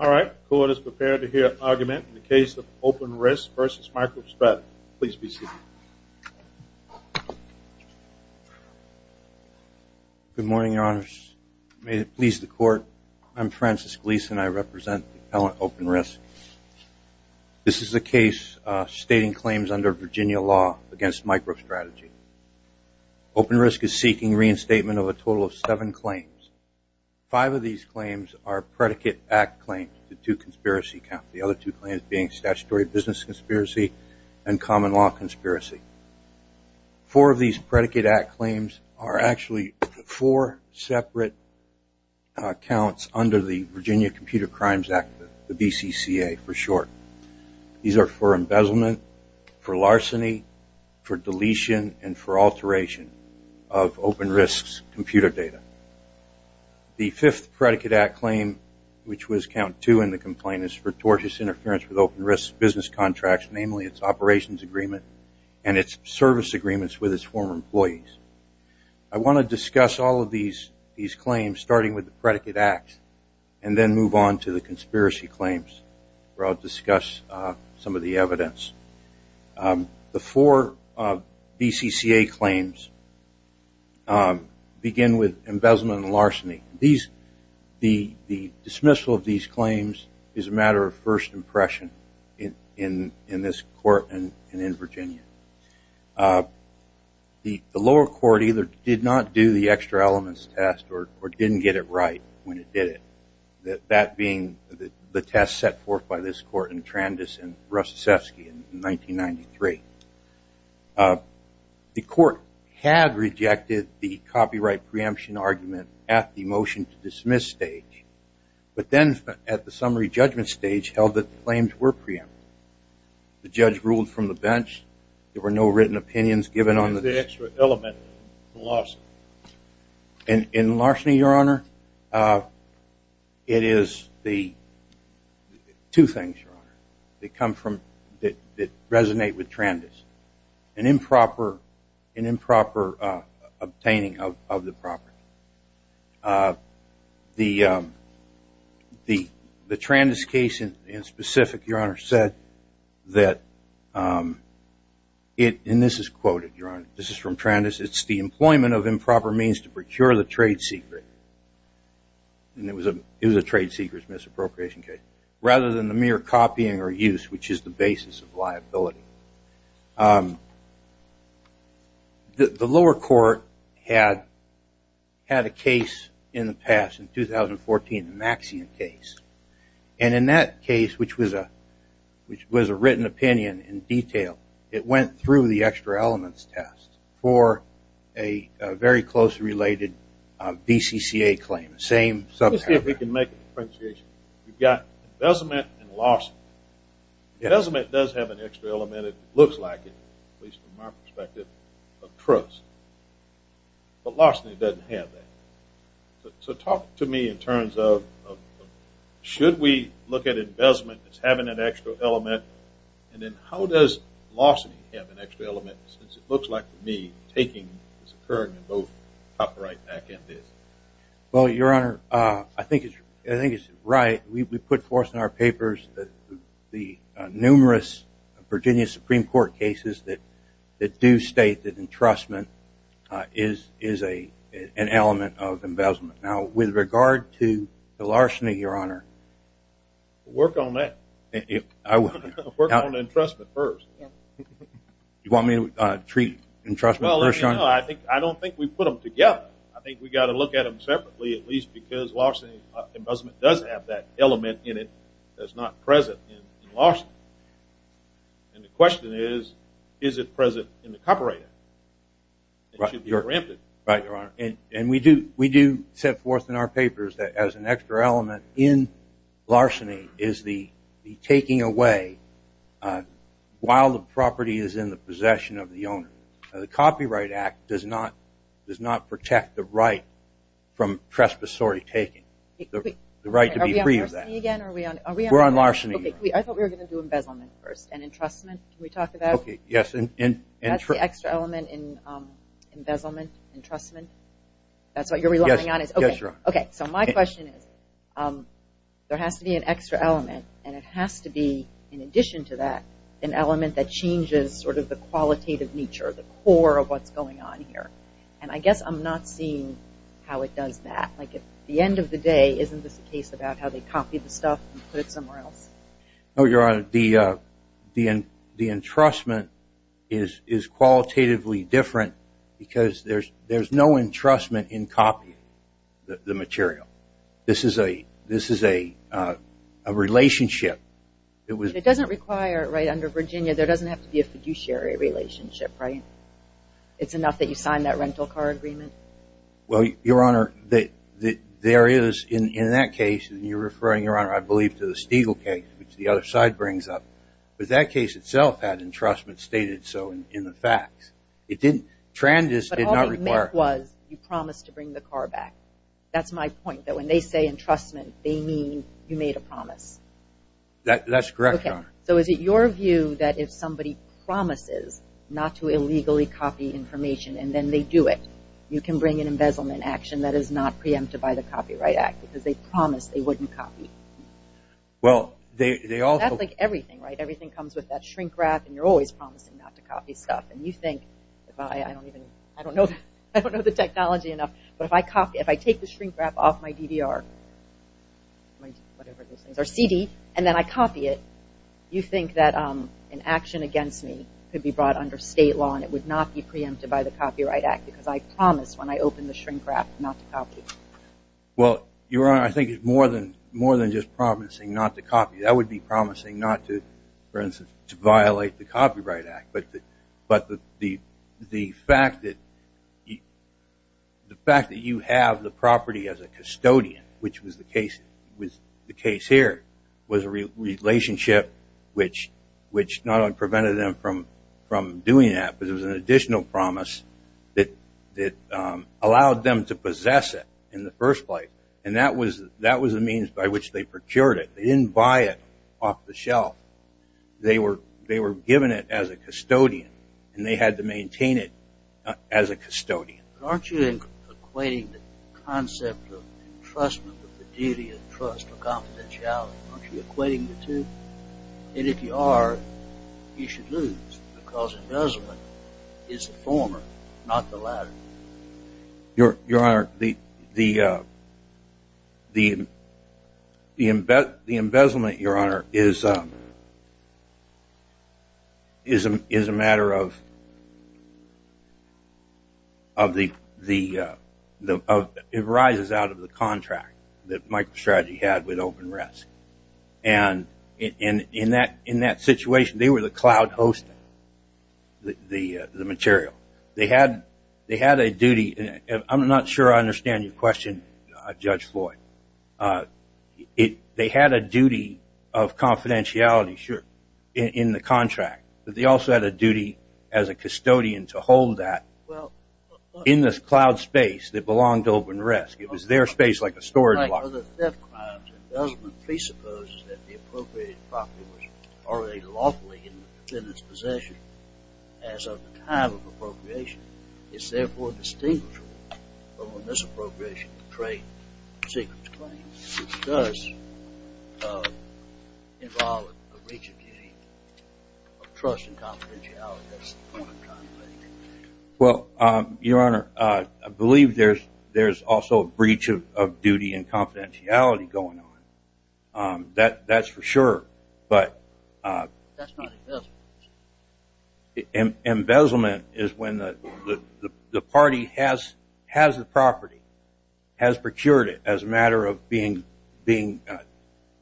All right, the court is prepared to hear an argument in the case of OpenRisk v. MicroStrategy. Please be seated. Good morning, Your Honors. May it please the court, I'm Francis Gleason and I represent the appellant OpenRisk. This is a case stating claims under Virginia law against MicroStrategy. OpenRisk is seeking reinstatement of a total of seven claims. Five of these claims are predicate act claims, the two conspiracy counts. The other two claims being statutory business conspiracy and common law conspiracy. Four of these predicate act claims are actually four separate counts under the Virginia Computer Crimes Act, the BCCA for short. These are for embezzlement, for larceny, for deletion, and for alteration of OpenRisk's computer data. The fifth predicate act claim, which was count two in the complaint, is for tortious interference with OpenRisk's business contracts, namely its operations agreement and its service agreements with its former employees. I want to discuss all of these claims, starting with the predicate act, and then move on to the conspiracy claims, where I'll discuss some of the evidence. The four BCCA claims begin with embezzlement and larceny. The dismissal of these claims is a matter of first impression in this court and in Virginia. The lower court either did not do the extra elements test or didn't get it right when it did it, that being the test set forth by this court in Trandis and Russacevsky in 1993. The court had rejected the copyright preemption argument at the motion to dismiss stage, but then at the summary judgment stage held that the claims were preempted. The judge ruled from the bench. There were no written opinions given on the- What is the extra element in the larceny? In the larceny, Your Honor, it is the two things, Your Honor, that come from, that resonate with Trandis, an improper obtaining of the property. The Trandis case in specific, Your Honor, said that it, and this is quoted, Your Honor, this is from Trandis, it's the employment of improper means to procure the trade secret, and it was a trade secret misappropriation case, rather than the mere copying or use, which is the basis of liability. The lower court had a case in the past, in 2014, the Maxian case, and in that case, which was a written opinion in detail, it went through the extra elements test for a very closely related BCCA claim, the same- Let's see if we can make an appreciation. We've got embezzlement and larceny. Embezzlement does have an extra element, it looks like it, at least from my perspective, of trust. But larceny doesn't have that. So talk to me in terms of should we look at embezzlement as having an extra element, and then how does larceny have an extra element, since it looks like, to me, it's occurring in both copyright and this. Well, Your Honor, I think it's right. We put forth in our papers the numerous Virginia Supreme Court cases that do state that entrustment is an element of embezzlement. Now, with regard to the larceny, Your Honor- Work on that. Work on entrustment first. You want me to treat entrustment first, Your Honor? Well, let me know. I don't think we put them together. I think we've got to look at them separately, at least because larceny and embezzlement does have that element in it that's not present in larceny. And the question is, is it present in the copyright act? It should be granted. Right, Your Honor. And we do set forth in our papers that as an extra element in larceny is the taking away while the property is in the possession of the owner. The copyright act does not protect the right from trespassory taking, the right to be free of that. Are we on larceny again? We're on larceny, Your Honor. I thought we were going to do embezzlement first and entrustment. Can we talk about- Okay, yes. That's the extra element in embezzlement, entrustment. That's what you're relying on is- Yes, Your Honor. Okay, so my question is there has to be an extra element, and it has to be in addition to that an element that changes sort of the qualitative nature, the core of what's going on here. And I guess I'm not seeing how it does that. Like at the end of the day, isn't this a case about how they copy the stuff and put it somewhere else? No, Your Honor. The entrustment is qualitatively different because there's no entrustment in copying the material. This is a relationship. It doesn't require, right, under Virginia, there doesn't have to be a fiduciary relationship, right? It's enough that you sign that rental car agreement? Well, Your Honor, there is in that case, and you're referring, Your Honor, I believe, to the Stiegel case, which the other side brings up, but that case itself had entrustment stated so in the facts. It didn't- But all you meant was you promised to bring the car back. That's my point, that when they say entrustment, they mean you made a promise. That's correct, Your Honor. So is it your view that if somebody promises not to illegally copy information and then they do it, you can bring an embezzlement action that is not preempted by the Copyright Act because they promised they wouldn't copy? Well, they also- That's like everything, right? Everything comes with that shrink wrap, and you're always promising not to copy stuff. And you think, I don't know the technology enough, but if I take the shrink wrap off my CD and then I copy it, you think that an action against me could be brought under state law and it would not be preempted by the Copyright Act because I promised when I opened the shrink wrap not to copy. Well, Your Honor, I think it's more than just promising not to copy. That would be promising not to, for instance, violate the Copyright Act. But the fact that you have the property as a custodian, which was the case here, was a relationship which not only prevented them from doing that, but it was an additional promise that allowed them to possess it in the first place. And that was the means by which they procured it. They didn't buy it off the shelf. They were given it as a custodian, and they had to maintain it as a custodian. Aren't you equating the concept of entrustment with the duty of trust or confidentiality? Aren't you equating the two? And if you are, you should lose because embezzlement is the former, not the latter. Your Honor, the embezzlement, Your Honor, is a matter of the rises out of the contract that MicroStrategy had with OpenREST. And in that situation, they were the cloud host, the material. They had a duty. I'm not sure I understand your question, Judge Floyd. They had a duty of confidentiality, sure, in the contract. But they also had a duty as a custodian to hold that in this cloud space that belonged to OpenREST. It was their space like a storage locker. Whether theft, crimes, embezzlement presupposes that the appropriated property was already lawfully in the defendant's possession as of the time of appropriation is therefore distinguishable from a misappropriation of trade secrets claims. It does involve a breach of duty of trust and confidentiality. That's the point I'm trying to make. Well, Your Honor, I believe there's also a breach of duty and confidentiality going on. That's for sure, but embezzlement is when the party has the property, has procured it as a matter of being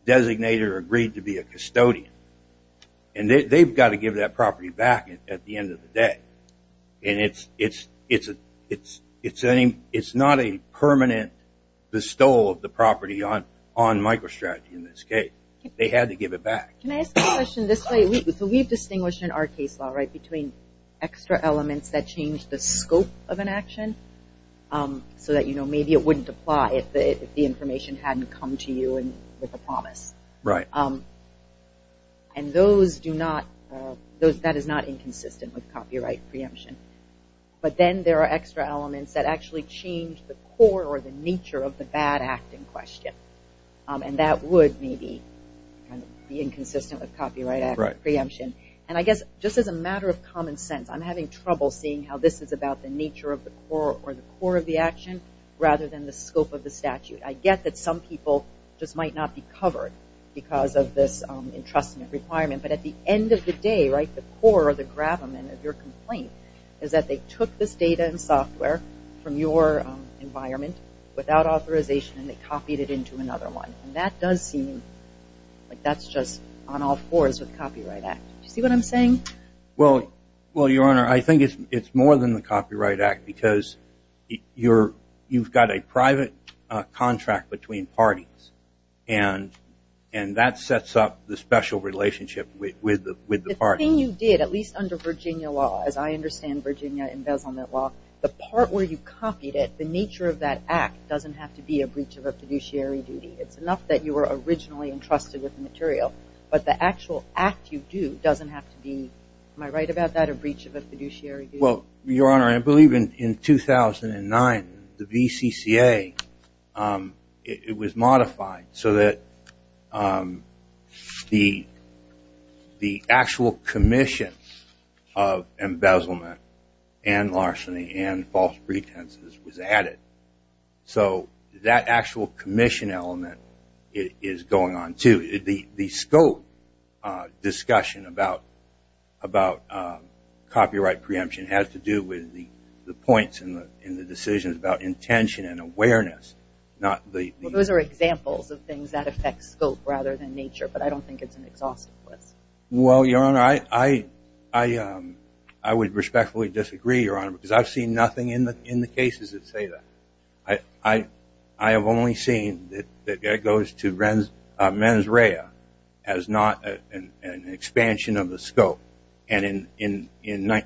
designated or agreed to be a custodian. And they've got to give that property back at the end of the day. And it's not a permanent bestowal of the property on MicroStrategy in this case. They had to give it back. Can I ask a question this way? We've distinguished in our case law between extra elements that change the scope of an action so that maybe it wouldn't apply if the information hadn't come to you with a promise. Right. And that is not inconsistent with copyright preemption. But then there are extra elements that actually change the core or the nature of the bad act in question. And that would maybe be inconsistent with copyright preemption. Right. And I guess just as a matter of common sense, I'm having trouble seeing how this is about the nature of the core or the core of the action rather than the scope of the statute. I get that some people just might not be covered because of this entrustment requirement. But at the end of the day, right, the core or the gravamen of your complaint is that they took this data and software from your environment without authorization and they copied it into another one. And that does seem like that's just on all fours with the Copyright Act. Do you see what I'm saying? Well, Your Honor, I think it's more than the Copyright Act because you've got a private contract between parties. And that sets up the special relationship with the parties. The thing you did, at least under Virginia law, as I understand Virginia embezzlement law, the part where you copied it, the nature of that act doesn't have to be a breach of a fiduciary duty. It's enough that you were originally entrusted with the material. But the actual act you do doesn't have to be, am I right about that, a breach of a fiduciary duty? Well, Your Honor, I believe in 2009 the VCCA, it was modified so that the actual commission of embezzlement and larceny and false pretenses was added. So that actual commission element is going on too. The scope discussion about copyright preemption has to do with the points and the decisions about intention and awareness. Those are examples of things that affect scope rather than nature. But I don't think it's an exhaustive list. Well, Your Honor, I would respectfully disagree, Your Honor, because I've seen nothing in the cases that say that. I have only seen that it goes to mens rea as not an expansion of the scope. And in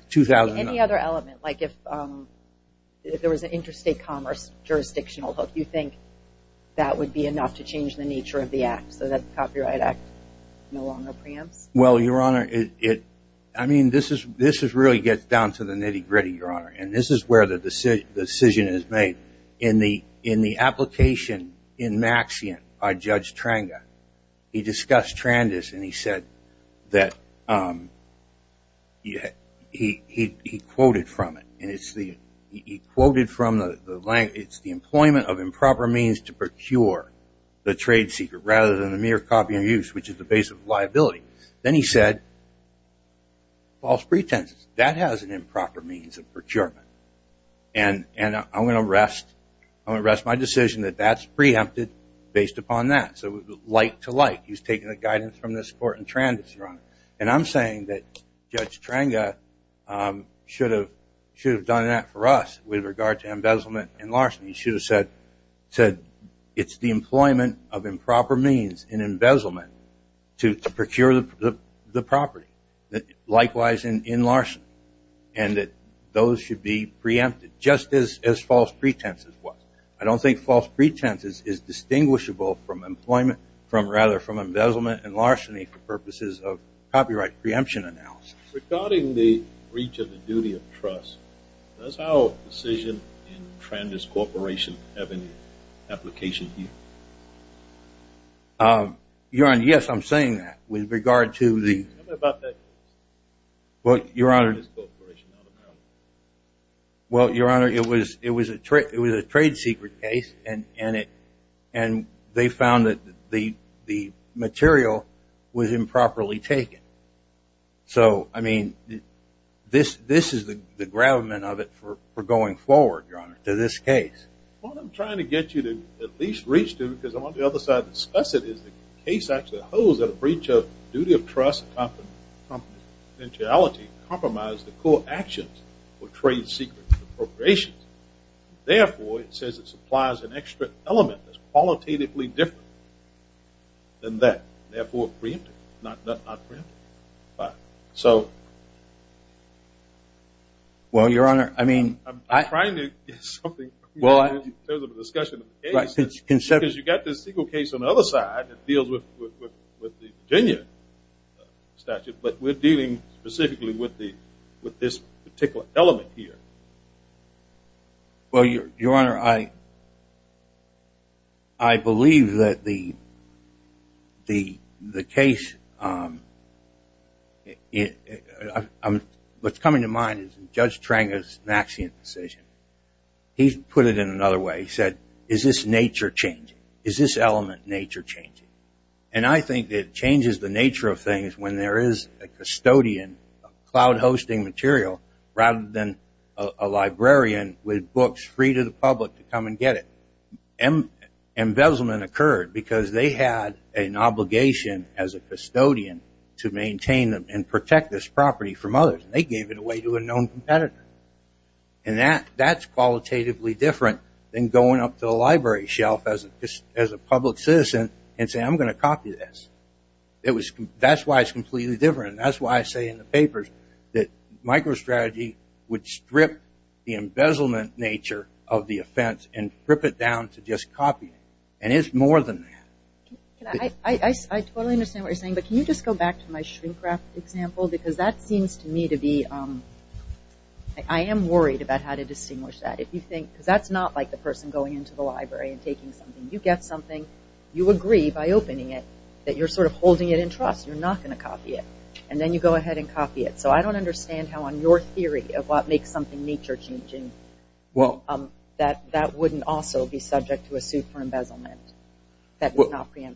2009... Any other element? Like if there was an interstate commerce jurisdictional hook, you think that would be enough to change the nature of the act so that the Copyright Act no longer preempts? Well, Your Honor, I mean, this really gets down to the nitty gritty, Your Honor. And this is where the decision is made. In the application in Maxian by Judge Tranga, he discussed Trandis and he said that he quoted from it. And he quoted from the language, it's the employment of improper means to procure the trade secret rather than the mere copy and use, which is the base of liability. Then he said, false pretenses. That has an improper means of procurement. And I'm going to rest my decision that that's preempted based upon that. So light to light, he's taking the guidance from this court in Trandis, Your Honor. And I'm saying that Judge Tranga should have done that for us with regard to embezzlement and larceny. He should have said, it's the employment of improper means in embezzlement to procure the property, likewise in larceny, and that those should be preempted just as false pretenses was. I don't think false pretenses is distinguishable from employment, rather from embezzlement and larceny for purposes of copyright preemption analysis. Regarding the breach of the duty of trust, does our decision in Trandis Corporation have any application here? Your Honor, yes, I'm saying that with regard to the – Tell me about that case. Well, Your Honor, it was a trade secret case, and they found that the material was improperly taken. So, I mean, this is the gravamen of it for going forward, Your Honor, to this case. What I'm trying to get you to at least reach to, because I want the other side to discuss it, is the case actually holds that a breach of duty of trust and confidentiality compromised the core actions for trade secret appropriations. Therefore, it says it supplies an extra element that's qualitatively different than that, therefore preempted, not preempted. So – Well, Your Honor, I mean – I'm trying to get something clear in terms of the discussion of the case, because you've got this legal case on the other side that deals with the Virginia statute, but we're dealing specifically with this particular element here. Well, Your Honor, I believe that the case – what's coming to mind is Judge Tranga's Maxian decision. He put it in another way. He said, is this nature changing? Is this element nature changing? And I think it changes the nature of things when there is a custodian, cloud-hosting material, rather than a librarian with books free to the public to come and get it. Embezzlement occurred because they had an obligation as a custodian to maintain and protect this property from others. They gave it away to a known competitor. And that's qualitatively different than going up to the library shelf as a public citizen and saying, I'm going to copy this. That's why it's completely different. That's why I say in the papers that microstrategy would strip the embezzlement nature of the offense and rip it down to just copying. And it's more than that. I totally understand what you're saying, but can you just go back to my shrink-wrap example? Because that seems to me to be – I am worried about how to distinguish that. If you think – because that's not like the person going into the library and taking something. You get something. You agree by opening it that you're sort of holding it in trust. You're not going to copy it. And then you go ahead and copy it. So I don't understand how on your theory of what makes something nature changing, that that wouldn't also be subject to a suit for embezzlement.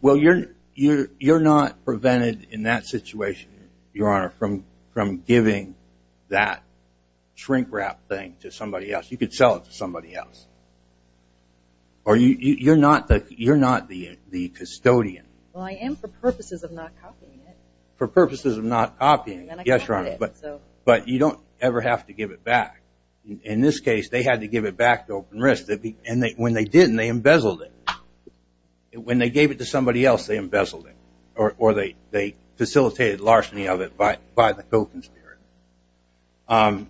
Well, you're not prevented in that situation, Your Honor, from giving that shrink-wrap thing to somebody else. You could sell it to somebody else. Or you're not the custodian. Well, I am for purposes of not copying it. For purposes of not copying it, yes, Your Honor. But you don't ever have to give it back. In this case, they had to give it back to Open Risk. And when they didn't, they embezzled it. When they gave it to somebody else, they embezzled it. Or they facilitated larceny of it by the co-conspirator.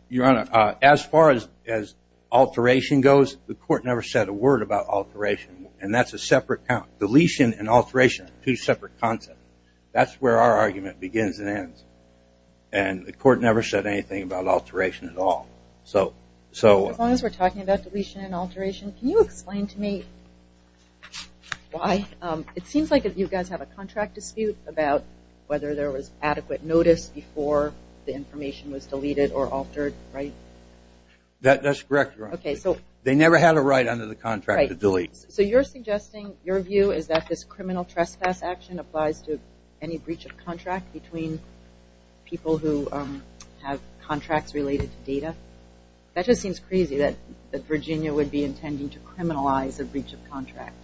Your Honor, as far as alteration goes, the court never said a word about alteration. And that's a separate – deletion and alteration are two separate concepts. That's where our argument begins and ends. And the court never said anything about alteration at all. As long as we're talking about deletion and alteration, can you explain to me why? It seems like you guys have a contract dispute about whether there was adequate notice before the information was deleted or altered, right? That's correct, Your Honor. They never had a right under the contract to delete. So you're suggesting your view is that this criminal trespass action applies to any breach of contract between people who have contracts related to data? That just seems crazy that Virginia would be intending to criminalize a breach of contract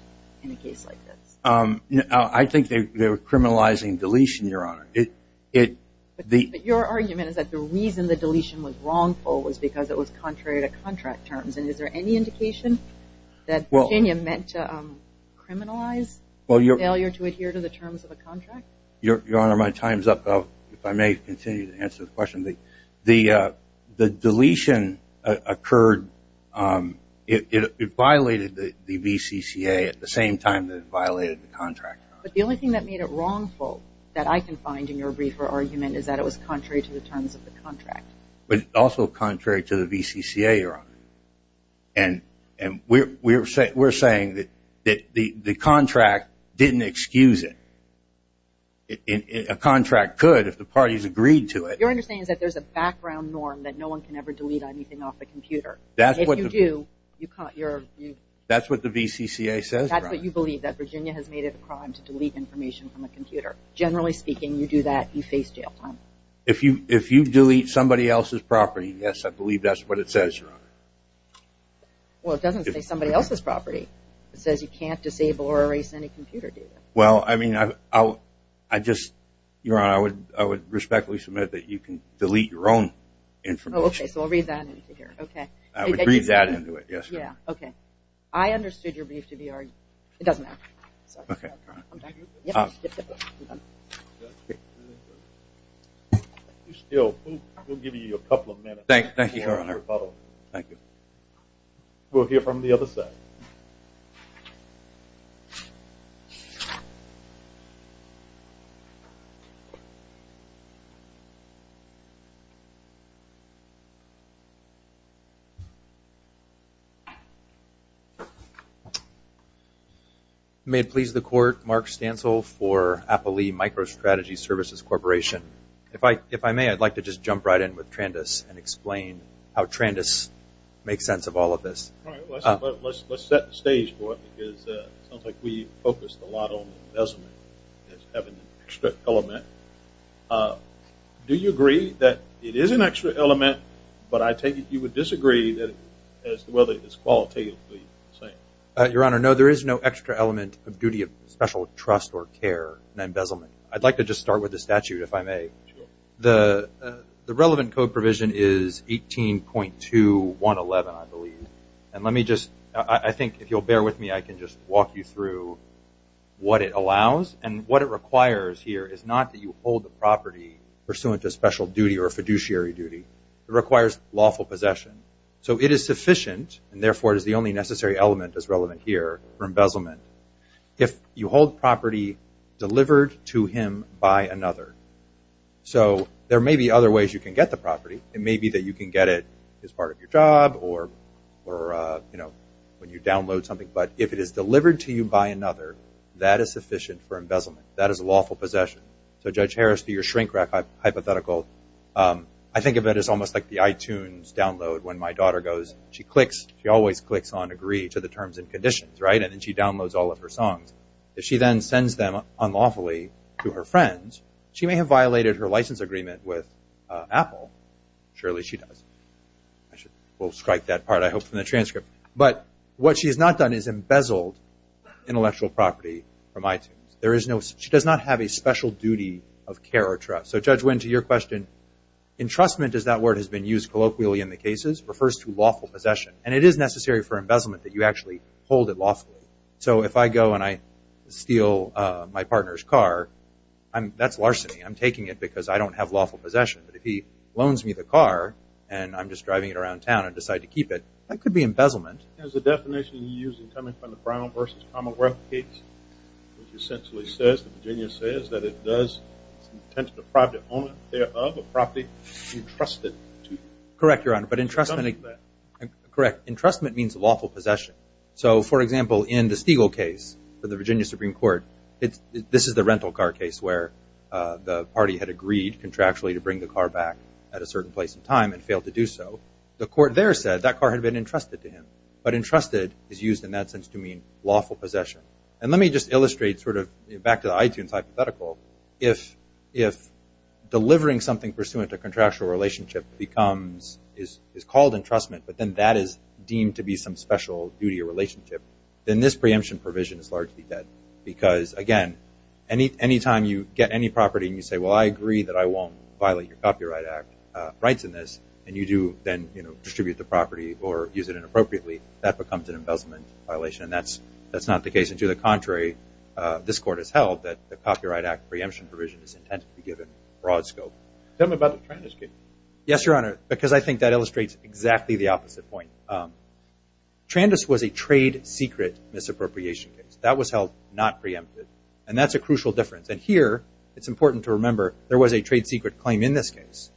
in a case like this. I think they were criminalizing deletion, Your Honor. But your argument is that the reason the deletion was wrongful was because it was contrary to contract terms. And is there any indication that Virginia meant to criminalize the failure to adhere to the terms of a contract? Your Honor, my time is up. If I may continue to answer the question. The deletion occurred – it violated the VCCA at the same time that it violated the contract. But the only thing that made it wrongful that I can find in your briefer argument was also contrary to the VCCA, Your Honor. And we're saying that the contract didn't excuse it. A contract could if the parties agreed to it. Your understanding is that there's a background norm that no one can ever delete anything off a computer. If you do, you're – That's what the VCCA says, Your Honor. That's what you believe, that Virginia has made it a crime to delete information from a computer. Generally speaking, you do that, you face jail time. If you delete somebody else's property, yes, I believe that's what it says, Your Honor. Well, it doesn't say somebody else's property. It says you can't disable or erase any computer data. Well, I mean, I just – Your Honor, I would respectfully submit that you can delete your own information. Oh, okay, so I'll read that into here, okay. I understood your brief to be – it doesn't matter. We'll give you a couple of minutes. Thank you, Your Honor. We'll hear from the other side. May it please the Court, Mark Stansel for Applee Microstrategy Services Corporation. If I may, I'd like to just jump right in with Trandis and explain how Trandis makes sense of all of this. All right. Let's set the stage for it because it sounds like we focused a lot on investment as having an extra element. Do you agree that it is an extra element, but I take it you would disagree as to whether it's qualitatively the same? Your Honor, no, there is no extra element of duty of special trust or care and embezzlement. I'd like to just start with the statute, if I may. Sure. The relevant code provision is 18.2111, I believe. And let me just – I think if you'll bear with me, I can just walk you through what it allows. And what it requires here is not that you hold the property pursuant to special duty or fiduciary duty. It requires lawful possession. So it is sufficient, and therefore it is the only necessary element that's relevant here for embezzlement, if you hold property delivered to him by another. So there may be other ways you can get the property. It may be that you can get it as part of your job or when you download something. But if it is delivered to you by another, that is sufficient for embezzlement. That is lawful possession. So, Judge Harris, to your shrink-rack hypothetical, I think of it as almost like the iTunes download. When my daughter goes, she clicks – she always clicks on agree to the terms and conditions, right? And then she downloads all of her songs. If she then sends them unlawfully to her friends, she may have violated her license agreement with Apple. Surely she does. We'll strike that part, I hope, from the transcript. But what she has not done is embezzled intellectual property from iTunes. She does not have a special duty of care or trust. So, Judge Wynne, to your question, entrustment, as that word has been used colloquially in the cases, refers to lawful possession. And it is necessary for embezzlement that you actually hold it lawfully. So if I go and I steal my partner's car, that's larceny. I'm taking it because I don't have lawful possession. But if he loans me the car and I'm just driving it around town and decide to keep it, that could be embezzlement. As the definition you used in coming from the Brown v. Commonwealth case, which essentially says, the Virginia says, that it does intent to deprive the owner thereof of property entrusted to you. Correct, Your Honor, but entrustment means lawful possession. So, for example, in the Stegall case for the Virginia Supreme Court, this is the rental car case where the party had agreed contractually to bring the car back at a certain place and time and failed to do so. The court there said that car had been entrusted to him. But entrusted is used in that sense to mean lawful possession. And let me just illustrate sort of back to the iTunes hypothetical. If delivering something pursuant to contractual relationship is called entrustment, but then that is deemed to be some special duty or relationship, then this preemption provision is largely dead. Because, again, any time you get any property and you say, well, I agree that I won't violate your Copyright Rights in this, and you do then distribute the property or use it inappropriately, that becomes an embezzlement violation. And that's not the case. And to the contrary, this Court has held that the Copyright Act preemption provision is intended to be given broad scope. Tell me about the Trandus case. Yes, Your Honor, because I think that illustrates exactly the opposite point. Trandus was a trade secret misappropriation case. That was held not preempted. And that's a crucial difference. And here it's important to remember there was a trade secret claim in this case.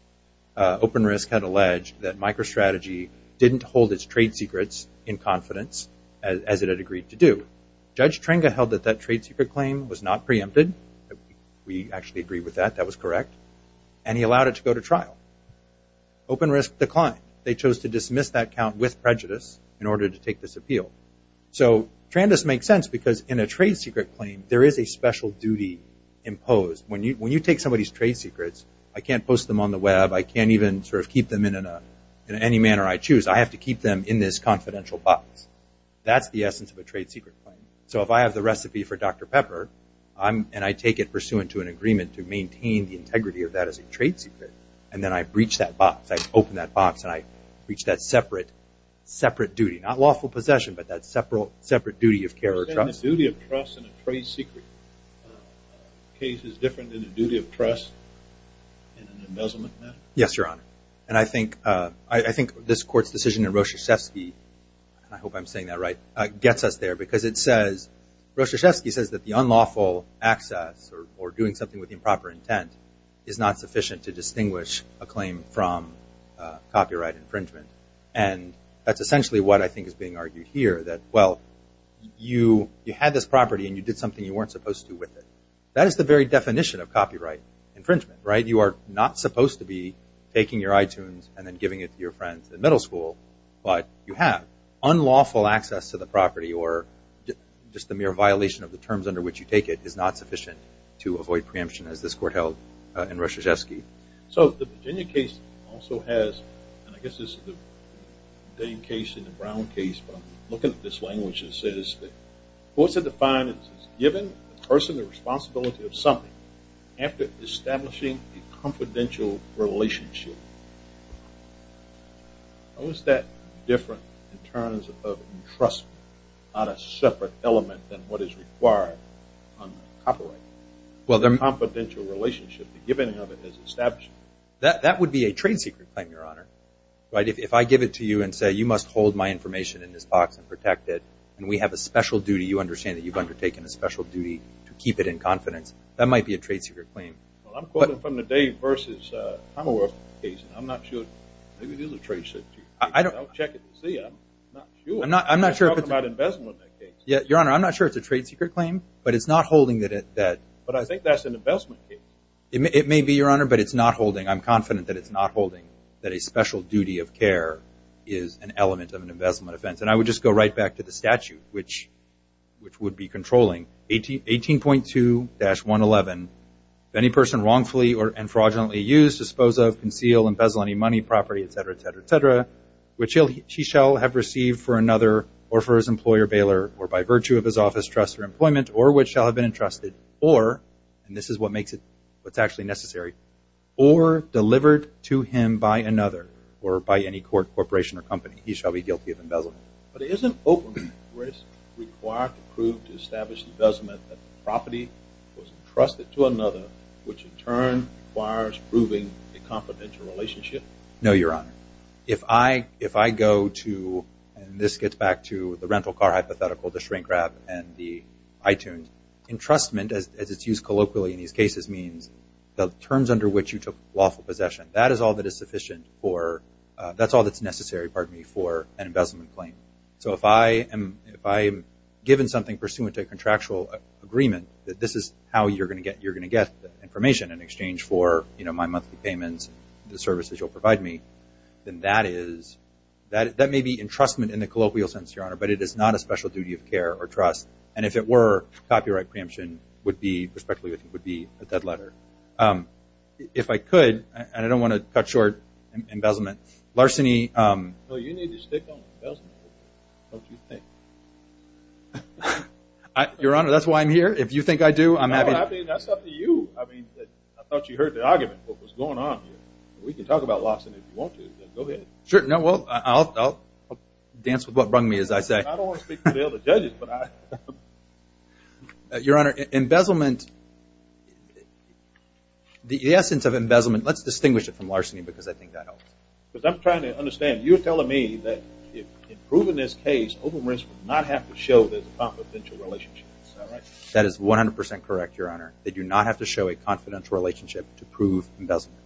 Open Risk had alleged that MicroStrategy didn't hold its trade secrets in confidence as it had agreed to do. Judge Trenga held that that trade secret claim was not preempted. We actually agree with that. That was correct. And he allowed it to go to trial. Open Risk declined. They chose to dismiss that count with prejudice in order to take this appeal. So Trandus makes sense because in a trade secret claim there is a special duty imposed. When you take somebody's trade secrets, I can't post them on the web. I can't even sort of keep them in any manner I choose. I have to keep them in this confidential box. That's the essence of a trade secret claim. So if I have the recipe for Dr. Pepper and I take it pursuant to an agreement to maintain the integrity of that as a trade secret, and then I breach that box, I open that box and I breach that separate duty, not lawful possession, but that separate duty of care or trust. Is the duty of trust in a trade secret case is different than the duty of trust in an embezzlement matter? Yes, Your Honor. And I think this Court's decision in Roschevsky, and I hope I'm saying that right, gets us there because it says, Roschevsky says that the unlawful access or doing something with improper intent is not sufficient to distinguish a claim from copyright infringement. And that's essentially what I think is being argued here, that, well, you had this property and you did something you weren't supposed to with it. That is the very definition of copyright infringement, right? You are not supposed to be taking your iTunes and then giving it to your friends in middle school, but you have. Unlawful access to the property or just the mere violation of the terms under which you take it is not sufficient to avoid preemption, as this Court held in Roschevsky. So the Virginia case also has, and I guess this is the Dane case and the Brown case, but I'm looking at this language, and it says that courts have defined it as given the person the responsibility of something after establishing a confidential relationship. How is that different in terms of entrustment on a separate element than what is required under copyright? A confidential relationship, the giving of it as established. That would be a trade secret claim, Your Honor, right? You must hold my information in this box and protect it, and we have a special duty. You understand that you've undertaken a special duty to keep it in confidence. That might be a trade secret claim. Well, I'm quoting from the Dane versus Hummer case. I'm not sure. Maybe this is a trade secret. I'll check it to see. I'm not sure. I'm talking about investment in that case. Your Honor, I'm not sure it's a trade secret claim, but it's not holding that. But I think that's an investment case. It may be, Your Honor, but it's not holding. that a special duty of care is an element of an investment offense. And I would just go right back to the statute, which would be controlling. 18.2-111, if any person wrongfully and fraudulently used, disposed of, concealed, embezzled any money, property, et cetera, et cetera, et cetera, which he shall have received for another or for his employer, bailer, or by virtue of his office, trust, or employment, or which shall have been entrusted, or, and this is what makes it what's actually necessary, or delivered to him by another or by any corporation or company, he shall be guilty of embezzlement. But isn't open risk required to prove to establish investment that the property was entrusted to another, which in turn requires proving a confidential relationship? No, Your Honor. If I go to, and this gets back to the rental car hypothetical, the shrink wrap, and the iTunes, entrustment, as it's used colloquially in these cases, means the terms under which you took lawful possession. That is all that is sufficient for, that's all that's necessary, pardon me, for an embezzlement claim. So if I am given something pursuant to a contractual agreement, that this is how you're going to get information in exchange for, you know, my monthly payments, the services you'll provide me, then that is, that may be entrustment in the colloquial sense, Your Honor, but it is not a special duty of care or trust. And if it were, copyright preemption would be, respectfully, would be a dead letter. If I could, and I don't want to cut short embezzlement, larceny. Well, you need to stick on embezzlement. Don't you think? Your Honor, that's why I'm here. If you think I do, I'm happy to. No, I mean, that's up to you. I mean, I thought you heard the argument, what was going on here. We can talk about larceny if you want to. Go ahead. Sure, no, well, I'll dance with what brung me, as I say. I don't want to speak for the other judges, but I am. Your Honor, embezzlement, the essence of embezzlement, let's distinguish it from larceny because I think that helps. Because I'm trying to understand. You're telling me that in proving this case, open risk would not have to show there's a confidential relationship. Is that right? That is 100% correct, Your Honor. They do not have to show a confidential relationship to prove embezzlement.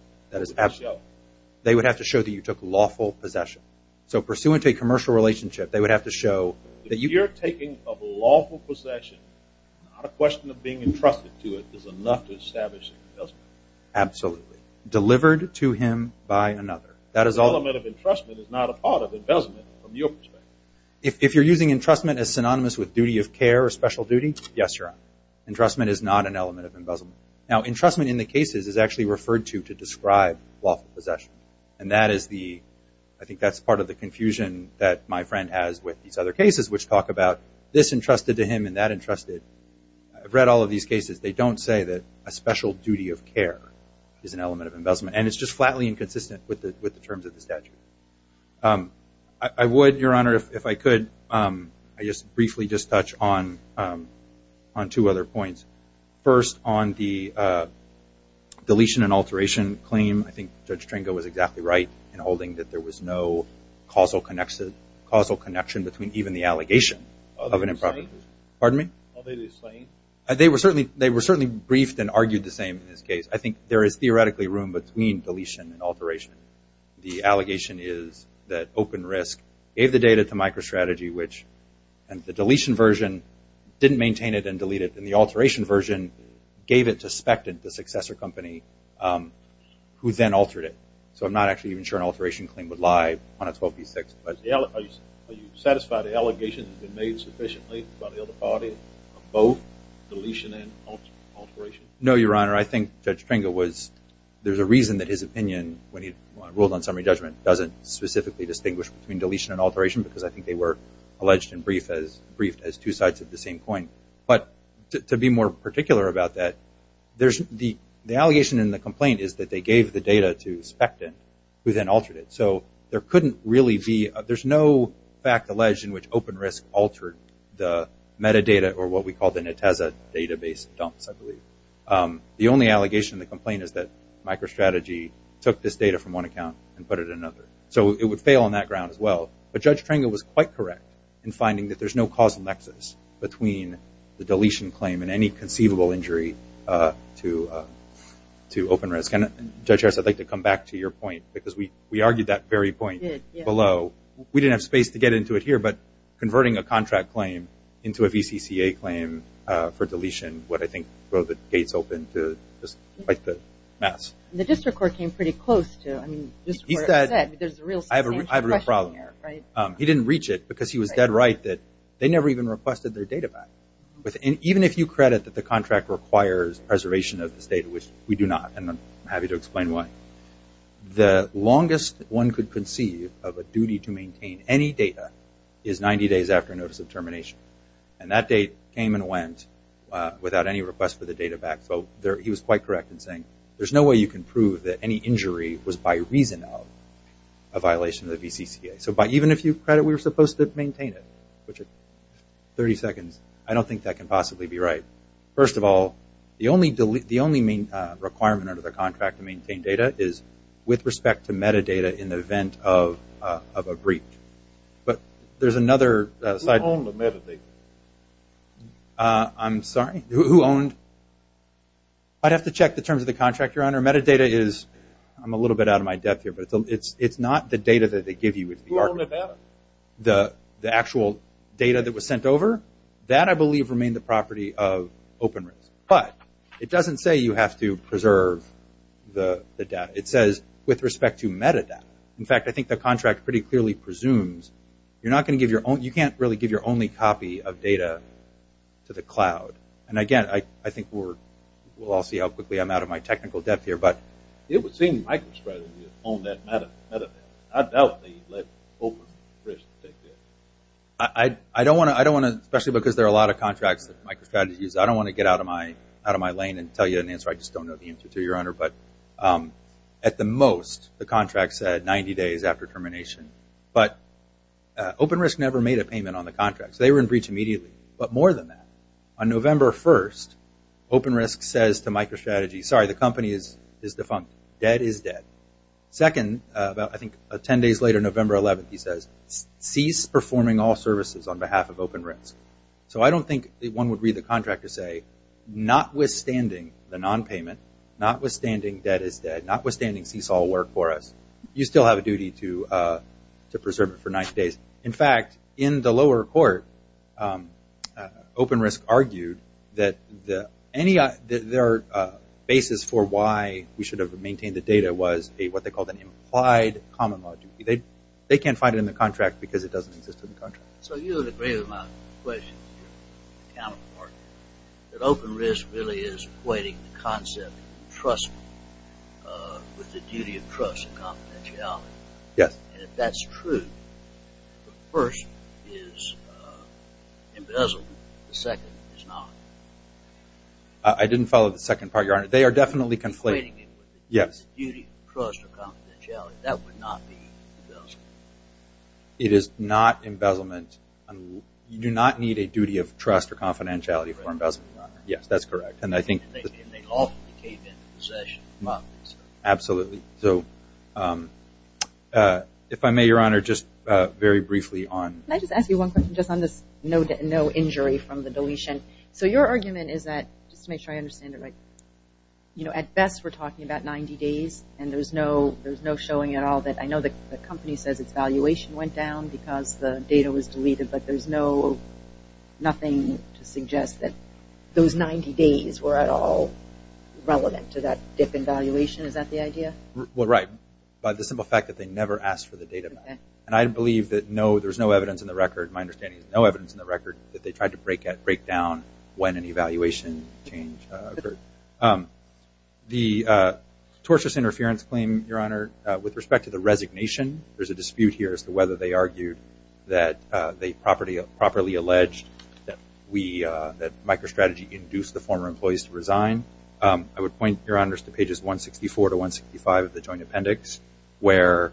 They would have to show that you took lawful possession. So pursuant to a commercial relationship, they would have to show that you – If you're taking a lawful possession, not a question of being entrusted to it is enough to establish embezzlement. Absolutely. Delivered to him by another. The element of entrustment is not a part of embezzlement from your perspective. If you're using entrustment as synonymous with duty of care or special duty, yes, Your Honor. Entrustment is not an element of embezzlement. Now, entrustment in the cases is actually referred to to describe lawful possession. And that is the – I think that's part of the confusion that my friend has with these other cases, which talk about this entrusted to him and that entrusted. I've read all of these cases. They don't say that a special duty of care is an element of embezzlement. And it's just flatly inconsistent with the terms of the statute. I would, Your Honor, if I could, I just briefly just touch on two other points. First, on the deletion and alteration claim. I think Judge Tringo was exactly right in holding that there was no causal connection between even the allegation of an improper decision. Are they the same? Pardon me? Are they the same? They were certainly briefed and argued the same in this case. I think there is theoretically room between deletion and alteration. The allegation is that open risk gave the data to MicroStrategy, which in the deletion version didn't maintain it and delete it. And the alteration version gave it to Spectin, the successor company, who then altered it. So I'm not actually even sure an alteration claim would lie on a 12b6. Are you satisfied the allegation has been made sufficiently by the other party of both deletion and alteration? No, Your Honor. I think Judge Tringo was – there's a reason that his opinion, when he ruled on summary judgment, doesn't specifically distinguish between deletion and alteration because I think they were alleged and briefed as two sides of the same coin. But to be more particular about that, the allegation in the complaint is that they gave the data to Spectin, who then altered it. So there couldn't really be – there's no fact alleged in which open risk altered the metadata or what we call the Netezza database dumps, I believe. The only allegation in the complaint is that MicroStrategy took this data from one account and put it in another. So it would fail on that ground as well. But Judge Tringo was quite correct in finding that there's no causal nexus between the deletion claim and any conceivable injury to open risk. And, Judge Harris, I'd like to come back to your point because we argued that very point below. We didn't have space to get into it here, but converting a contract claim into a VCCA claim for deletion would, I think, throw the gates open to just quite the mess. The district court came pretty close to it. I have a real problem here. He didn't reach it because he was dead right that they never even requested their data back. Even if you credit that the contract requires preservation of this data, which we do not, and I'm happy to explain why, the longest one could conceive of a duty to maintain any data is 90 days after notice of termination. And that date came and went without any request for the data back. So he was quite correct in saying, there's no way you can prove that any injury was by reason of a violation of the VCCA. So even if you credit we were supposed to maintain it, which at 30 seconds, I don't think that can possibly be right. First of all, the only requirement under the contract to maintain data is with respect to metadata in the event of a breach. But there's another side. Who owned the metadata? I'm sorry? Who owned? I'd have to check the terms of the contract, Your Honor. Metadata is, I'm a little bit out of my depth here, but it's not the data that they give you. Who owned the data? The actual data that was sent over? That I believe remained the property of open risk. But it doesn't say you have to preserve the data. It says with respect to metadata. In fact, I think the contract pretty clearly presumes you're not going to give your own, you can't really give your only copy of data to the cloud. And, again, I think we'll all see how quickly I'm out of my technical depth here. But it would seem MicroStrategy owned that metadata. I doubt they let open risk take that. I don't want to, especially because there are a lot of contracts that MicroStrategy used, I don't want to get out of my lane and tell you an answer I just don't know the answer to, Your Honor. But at the most, the contract said 90 days after termination. But open risk never made a payment on the contract. So they were in breach immediately. But more than that, on November 1st, open risk says to MicroStrategy, Sorry, the company is defunct. Dead is dead. Second, about I think 10 days later, November 11th, he says, Cease performing all services on behalf of open risk. So I don't think one would read the contract to say, Notwithstanding the nonpayment, notwithstanding dead is dead, Notwithstanding cease all work for us, you still have a duty to preserve it for 90 days. In fact, in the lower court, open risk argued that their basis for why we should have maintained the data was what they called an implied common law duty. They can't find it in the contract because it doesn't exist in the contract. So you would agree with my question to your accountant, Mark, that open risk really is equating the concept of trust with the duty of trust and confidentiality. Yes. And if that's true, the first is embezzlement. The second is not. I didn't follow the second part, Your Honor. They are definitely conflating it with the duty of trust or confidentiality. That would not be embezzlement. It is not embezzlement. You do not need a duty of trust or confidentiality for embezzlement, Your Honor. Yes, that's correct. And they lawfully came into possession. Absolutely. So if I may, Your Honor, just very briefly on Can I just ask you one question just on this no injury from the deletion? So your argument is that, just to make sure I understand it right, you know, at best we're talking about 90 days and there's no showing at all that I know the company says its valuation went down because the data was deleted, but there's nothing to suggest that those 90 days were at all relevant to that dip in valuation. Is that the idea? Well, right. But the simple fact that they never asked for the data back. And I believe that no, there's no evidence in the record, my understanding is no evidence in the record, that they tried to break down when an evaluation change occurred. The tortious interference claim, Your Honor, with respect to the resignation, there's a dispute here as to whether they argued that they properly alleged that we, that MicroStrategy induced the former employees to resign. I would point, Your Honors, to pages 164 to 165 of the joint appendix, where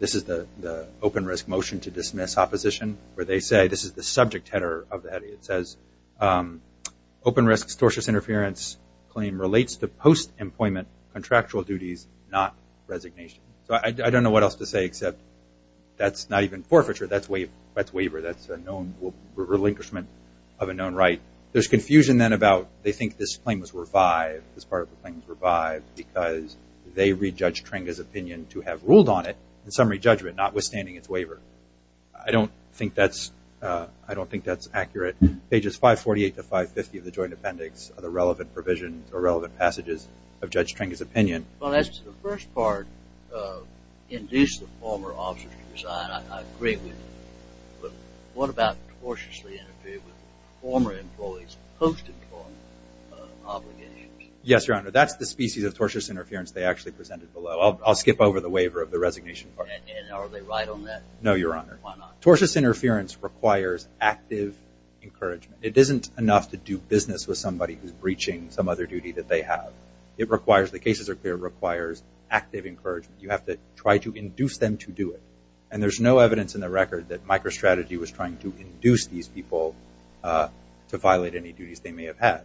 this is the open risk motion to dismiss opposition, where they say, this is the subject header of the heading, it says open risk tortious interference claim relates to post-employment contractual duties, not resignation. So I don't know what else to say except that's not even forfeiture, that's waiver, that's a known relinquishment of a known right. There's confusion then about they think this claim was revived, this part of the claim was revived, because they read Judge Tringa's opinion to have ruled on it in summary judgment, notwithstanding its waiver. I don't think that's accurate. Pages 548 to 550 of the joint appendix are the relevant provisions, or relevant passages of Judge Tringa's opinion. Well, that's the first part, induced the former officers to resign. I agree with you. But what about tortiously interfering with former employees' post-employment obligations? Yes, Your Honor, that's the species of tortious interference they actually presented below. I'll skip over the waiver of the resignation part. And are they right on that? No, Your Honor. Why not? Tortious interference requires active encouragement. It isn't enough to do business with somebody who's breaching some other duty that they have. It requires, the cases are clear, it requires active encouragement. You have to try to induce them to do it. And there's no evidence in the record that microstrategy was trying to induce these people to violate any duties they may have had.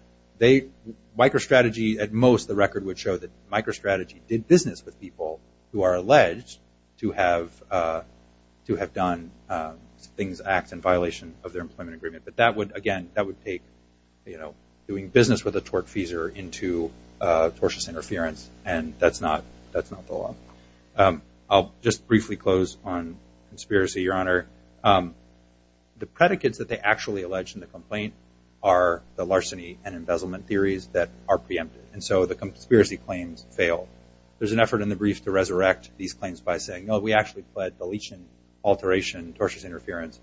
Microstrategy, at most, the record would show that microstrategy did business with people who are alleged to have done things, acts in violation of their employment agreement. But that would, again, that would take doing business with a tortfeasor into tortious interference, and that's not the law. I'll just briefly close on conspiracy, Your Honor. The predicates that they actually allege in the complaint are the larceny and embezzlement theories that are preempted, and so the conspiracy claims fail. There's an effort in the brief to resurrect these claims by saying, no, we actually pled deletion, alteration, tortious interference.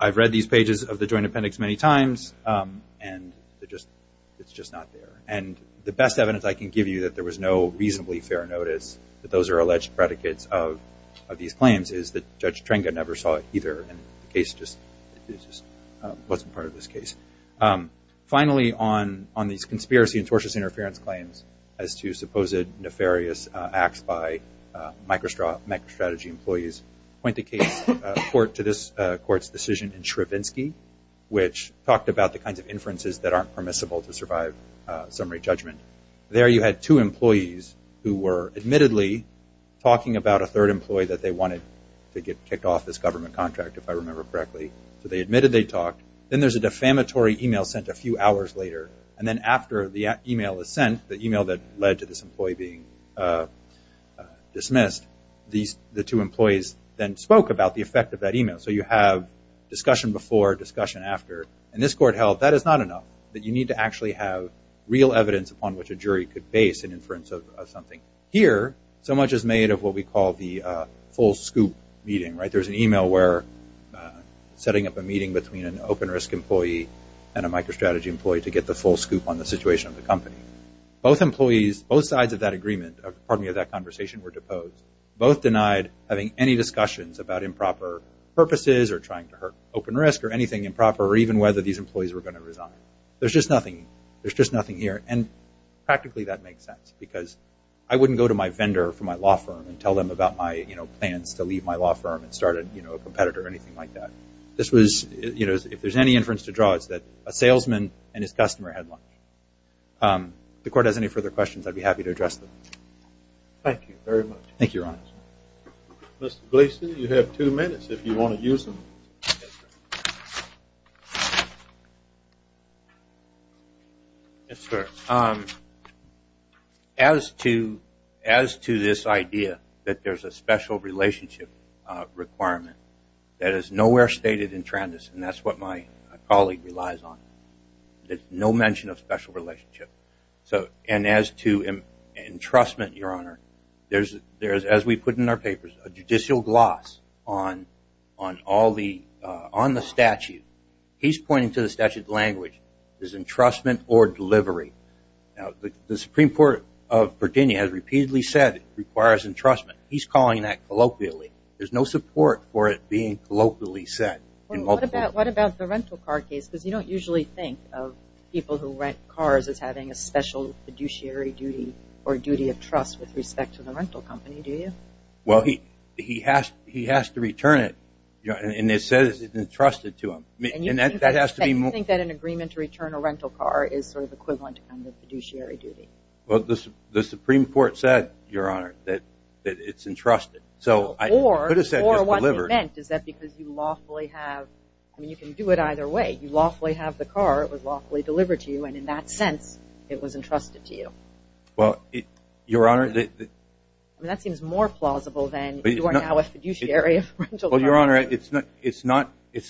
I've read these pages of the Joint Appendix many times, and it's just not there. And the best evidence I can give you that there was no reasonably fair notice that those are alleged predicates of these claims is that Judge Trenga never saw it either, and the case just wasn't part of this case. Finally, on these conspiracy and tortious interference claims as to supposed nefarious acts by microstrategy employees, point the case to this Court's decision in Shrevensky, which talked about the kinds of inferences that aren't permissible to survive summary judgment. There you had two employees who were admittedly talking about a third employee that they wanted to get kicked off this government contract, if I remember correctly. So they admitted they talked. Then there's a defamatory e-mail sent a few hours later, and then after the e-mail is sent, the e-mail that led to this employee being dismissed, the two employees then spoke about the effect of that e-mail. So you have discussion before, discussion after, and this Court held that is not enough, that you need to actually have real evidence upon which a jury could base an inference of something. Here, so much is made of what we call the full scoop meeting, right? There's an e-mail where setting up a meeting between an open-risk employee and a microstrategy employee to get the full scoop on the situation of the company. Both employees, both sides of that agreement, pardon me, of that conversation were deposed. Both denied having any discussions about improper purposes or trying to hurt open risk or anything improper or even whether these employees were going to resign. There's just nothing. There's just nothing here, and practically that makes sense because I wouldn't go to my vendor from my law firm and tell them about my plans to leave my law firm and start a competitor or anything like that. This was, you know, if there's any inference to draw, it's that a salesman and his customer had lunch. If the Court has any further questions, I'd be happy to address them. Thank you very much. Thank you, Your Honor. Mr. Gleason, you have two minutes if you want to use them. Yes, sir. As to this idea that there's a special relationship requirement that is nowhere stated in Trandis, and that's what my colleague relies on, there's no mention of special relationship. And as to entrustment, Your Honor, there's, as we put in our papers, a judicial gloss on the statute. He's pointing to the statute language as entrustment or delivery. Now, the Supreme Court of Virginia has repeatedly said it requires entrustment. He's calling that colloquially. There's no support for it being colloquially said. What about the rental car case? Because you don't usually think of people who rent cars as having a special fiduciary duty or duty of trust with respect to the rental company, do you? Well, he has to return it, and it says it's entrusted to him. And you think that an agreement to return a rental car is sort of equivalent to a fiduciary duty? Well, the Supreme Court said, Your Honor, that it's entrusted. Or what they meant is that because you lawfully have, I mean, you can do it either way. You lawfully have the car, it was lawfully delivered to you, and in that sense it was entrusted to you. Well, Your Honor, it's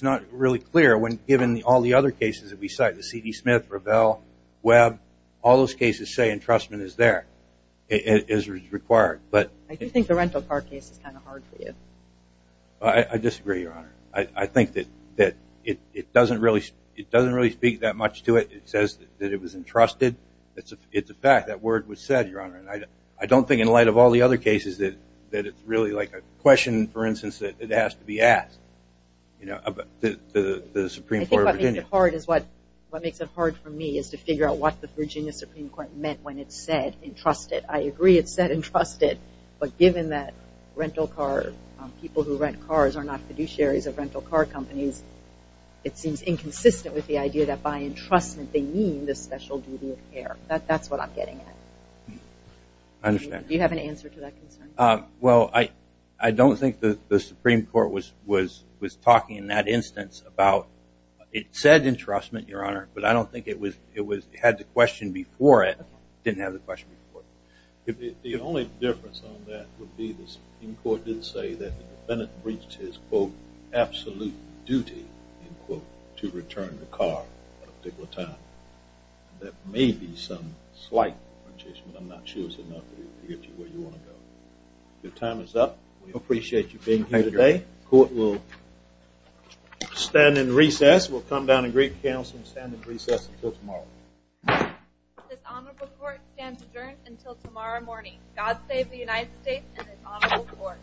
not really clear when given all the other cases that we cite, the C.D. Smith, Revell, Webb, all those cases say entrustment is there, is required. I do think the rental car case is kind of hard for you. I disagree, Your Honor. I think that it doesn't really speak that much to it. It says that it was entrusted. It's a fact. That word was said, Your Honor. I don't think in light of all the other cases that it's really like a question, for instance, that it has to be asked, you know, the Supreme Court of Virginia. I think what makes it hard for me is to figure out what the Virginia Supreme Court meant when it said entrusted. I agree it said entrusted, but given that people who rent cars are not fiduciaries of rental car companies, it seems inconsistent with the idea that by entrustment they mean the special duty of care. That's what I'm getting at. I understand. Do you have an answer to that concern? Well, I don't think the Supreme Court was talking in that instance about it said entrustment, Your Honor, but I don't think it had the question before it didn't have the question before it. The only difference on that would be the Supreme Court did say that Bennett reached his, quote, absolute duty, end quote, to return the car at a particular time. That may be some slight differentiation, but I'm not sure it's enough to get you where you want to go. Your time is up. We appreciate you being here today. The court will stand in recess. We'll come down and greet counsel and stand in recess until tomorrow. This honorable court stands adjourned until tomorrow morning. God save the United States and this honorable court.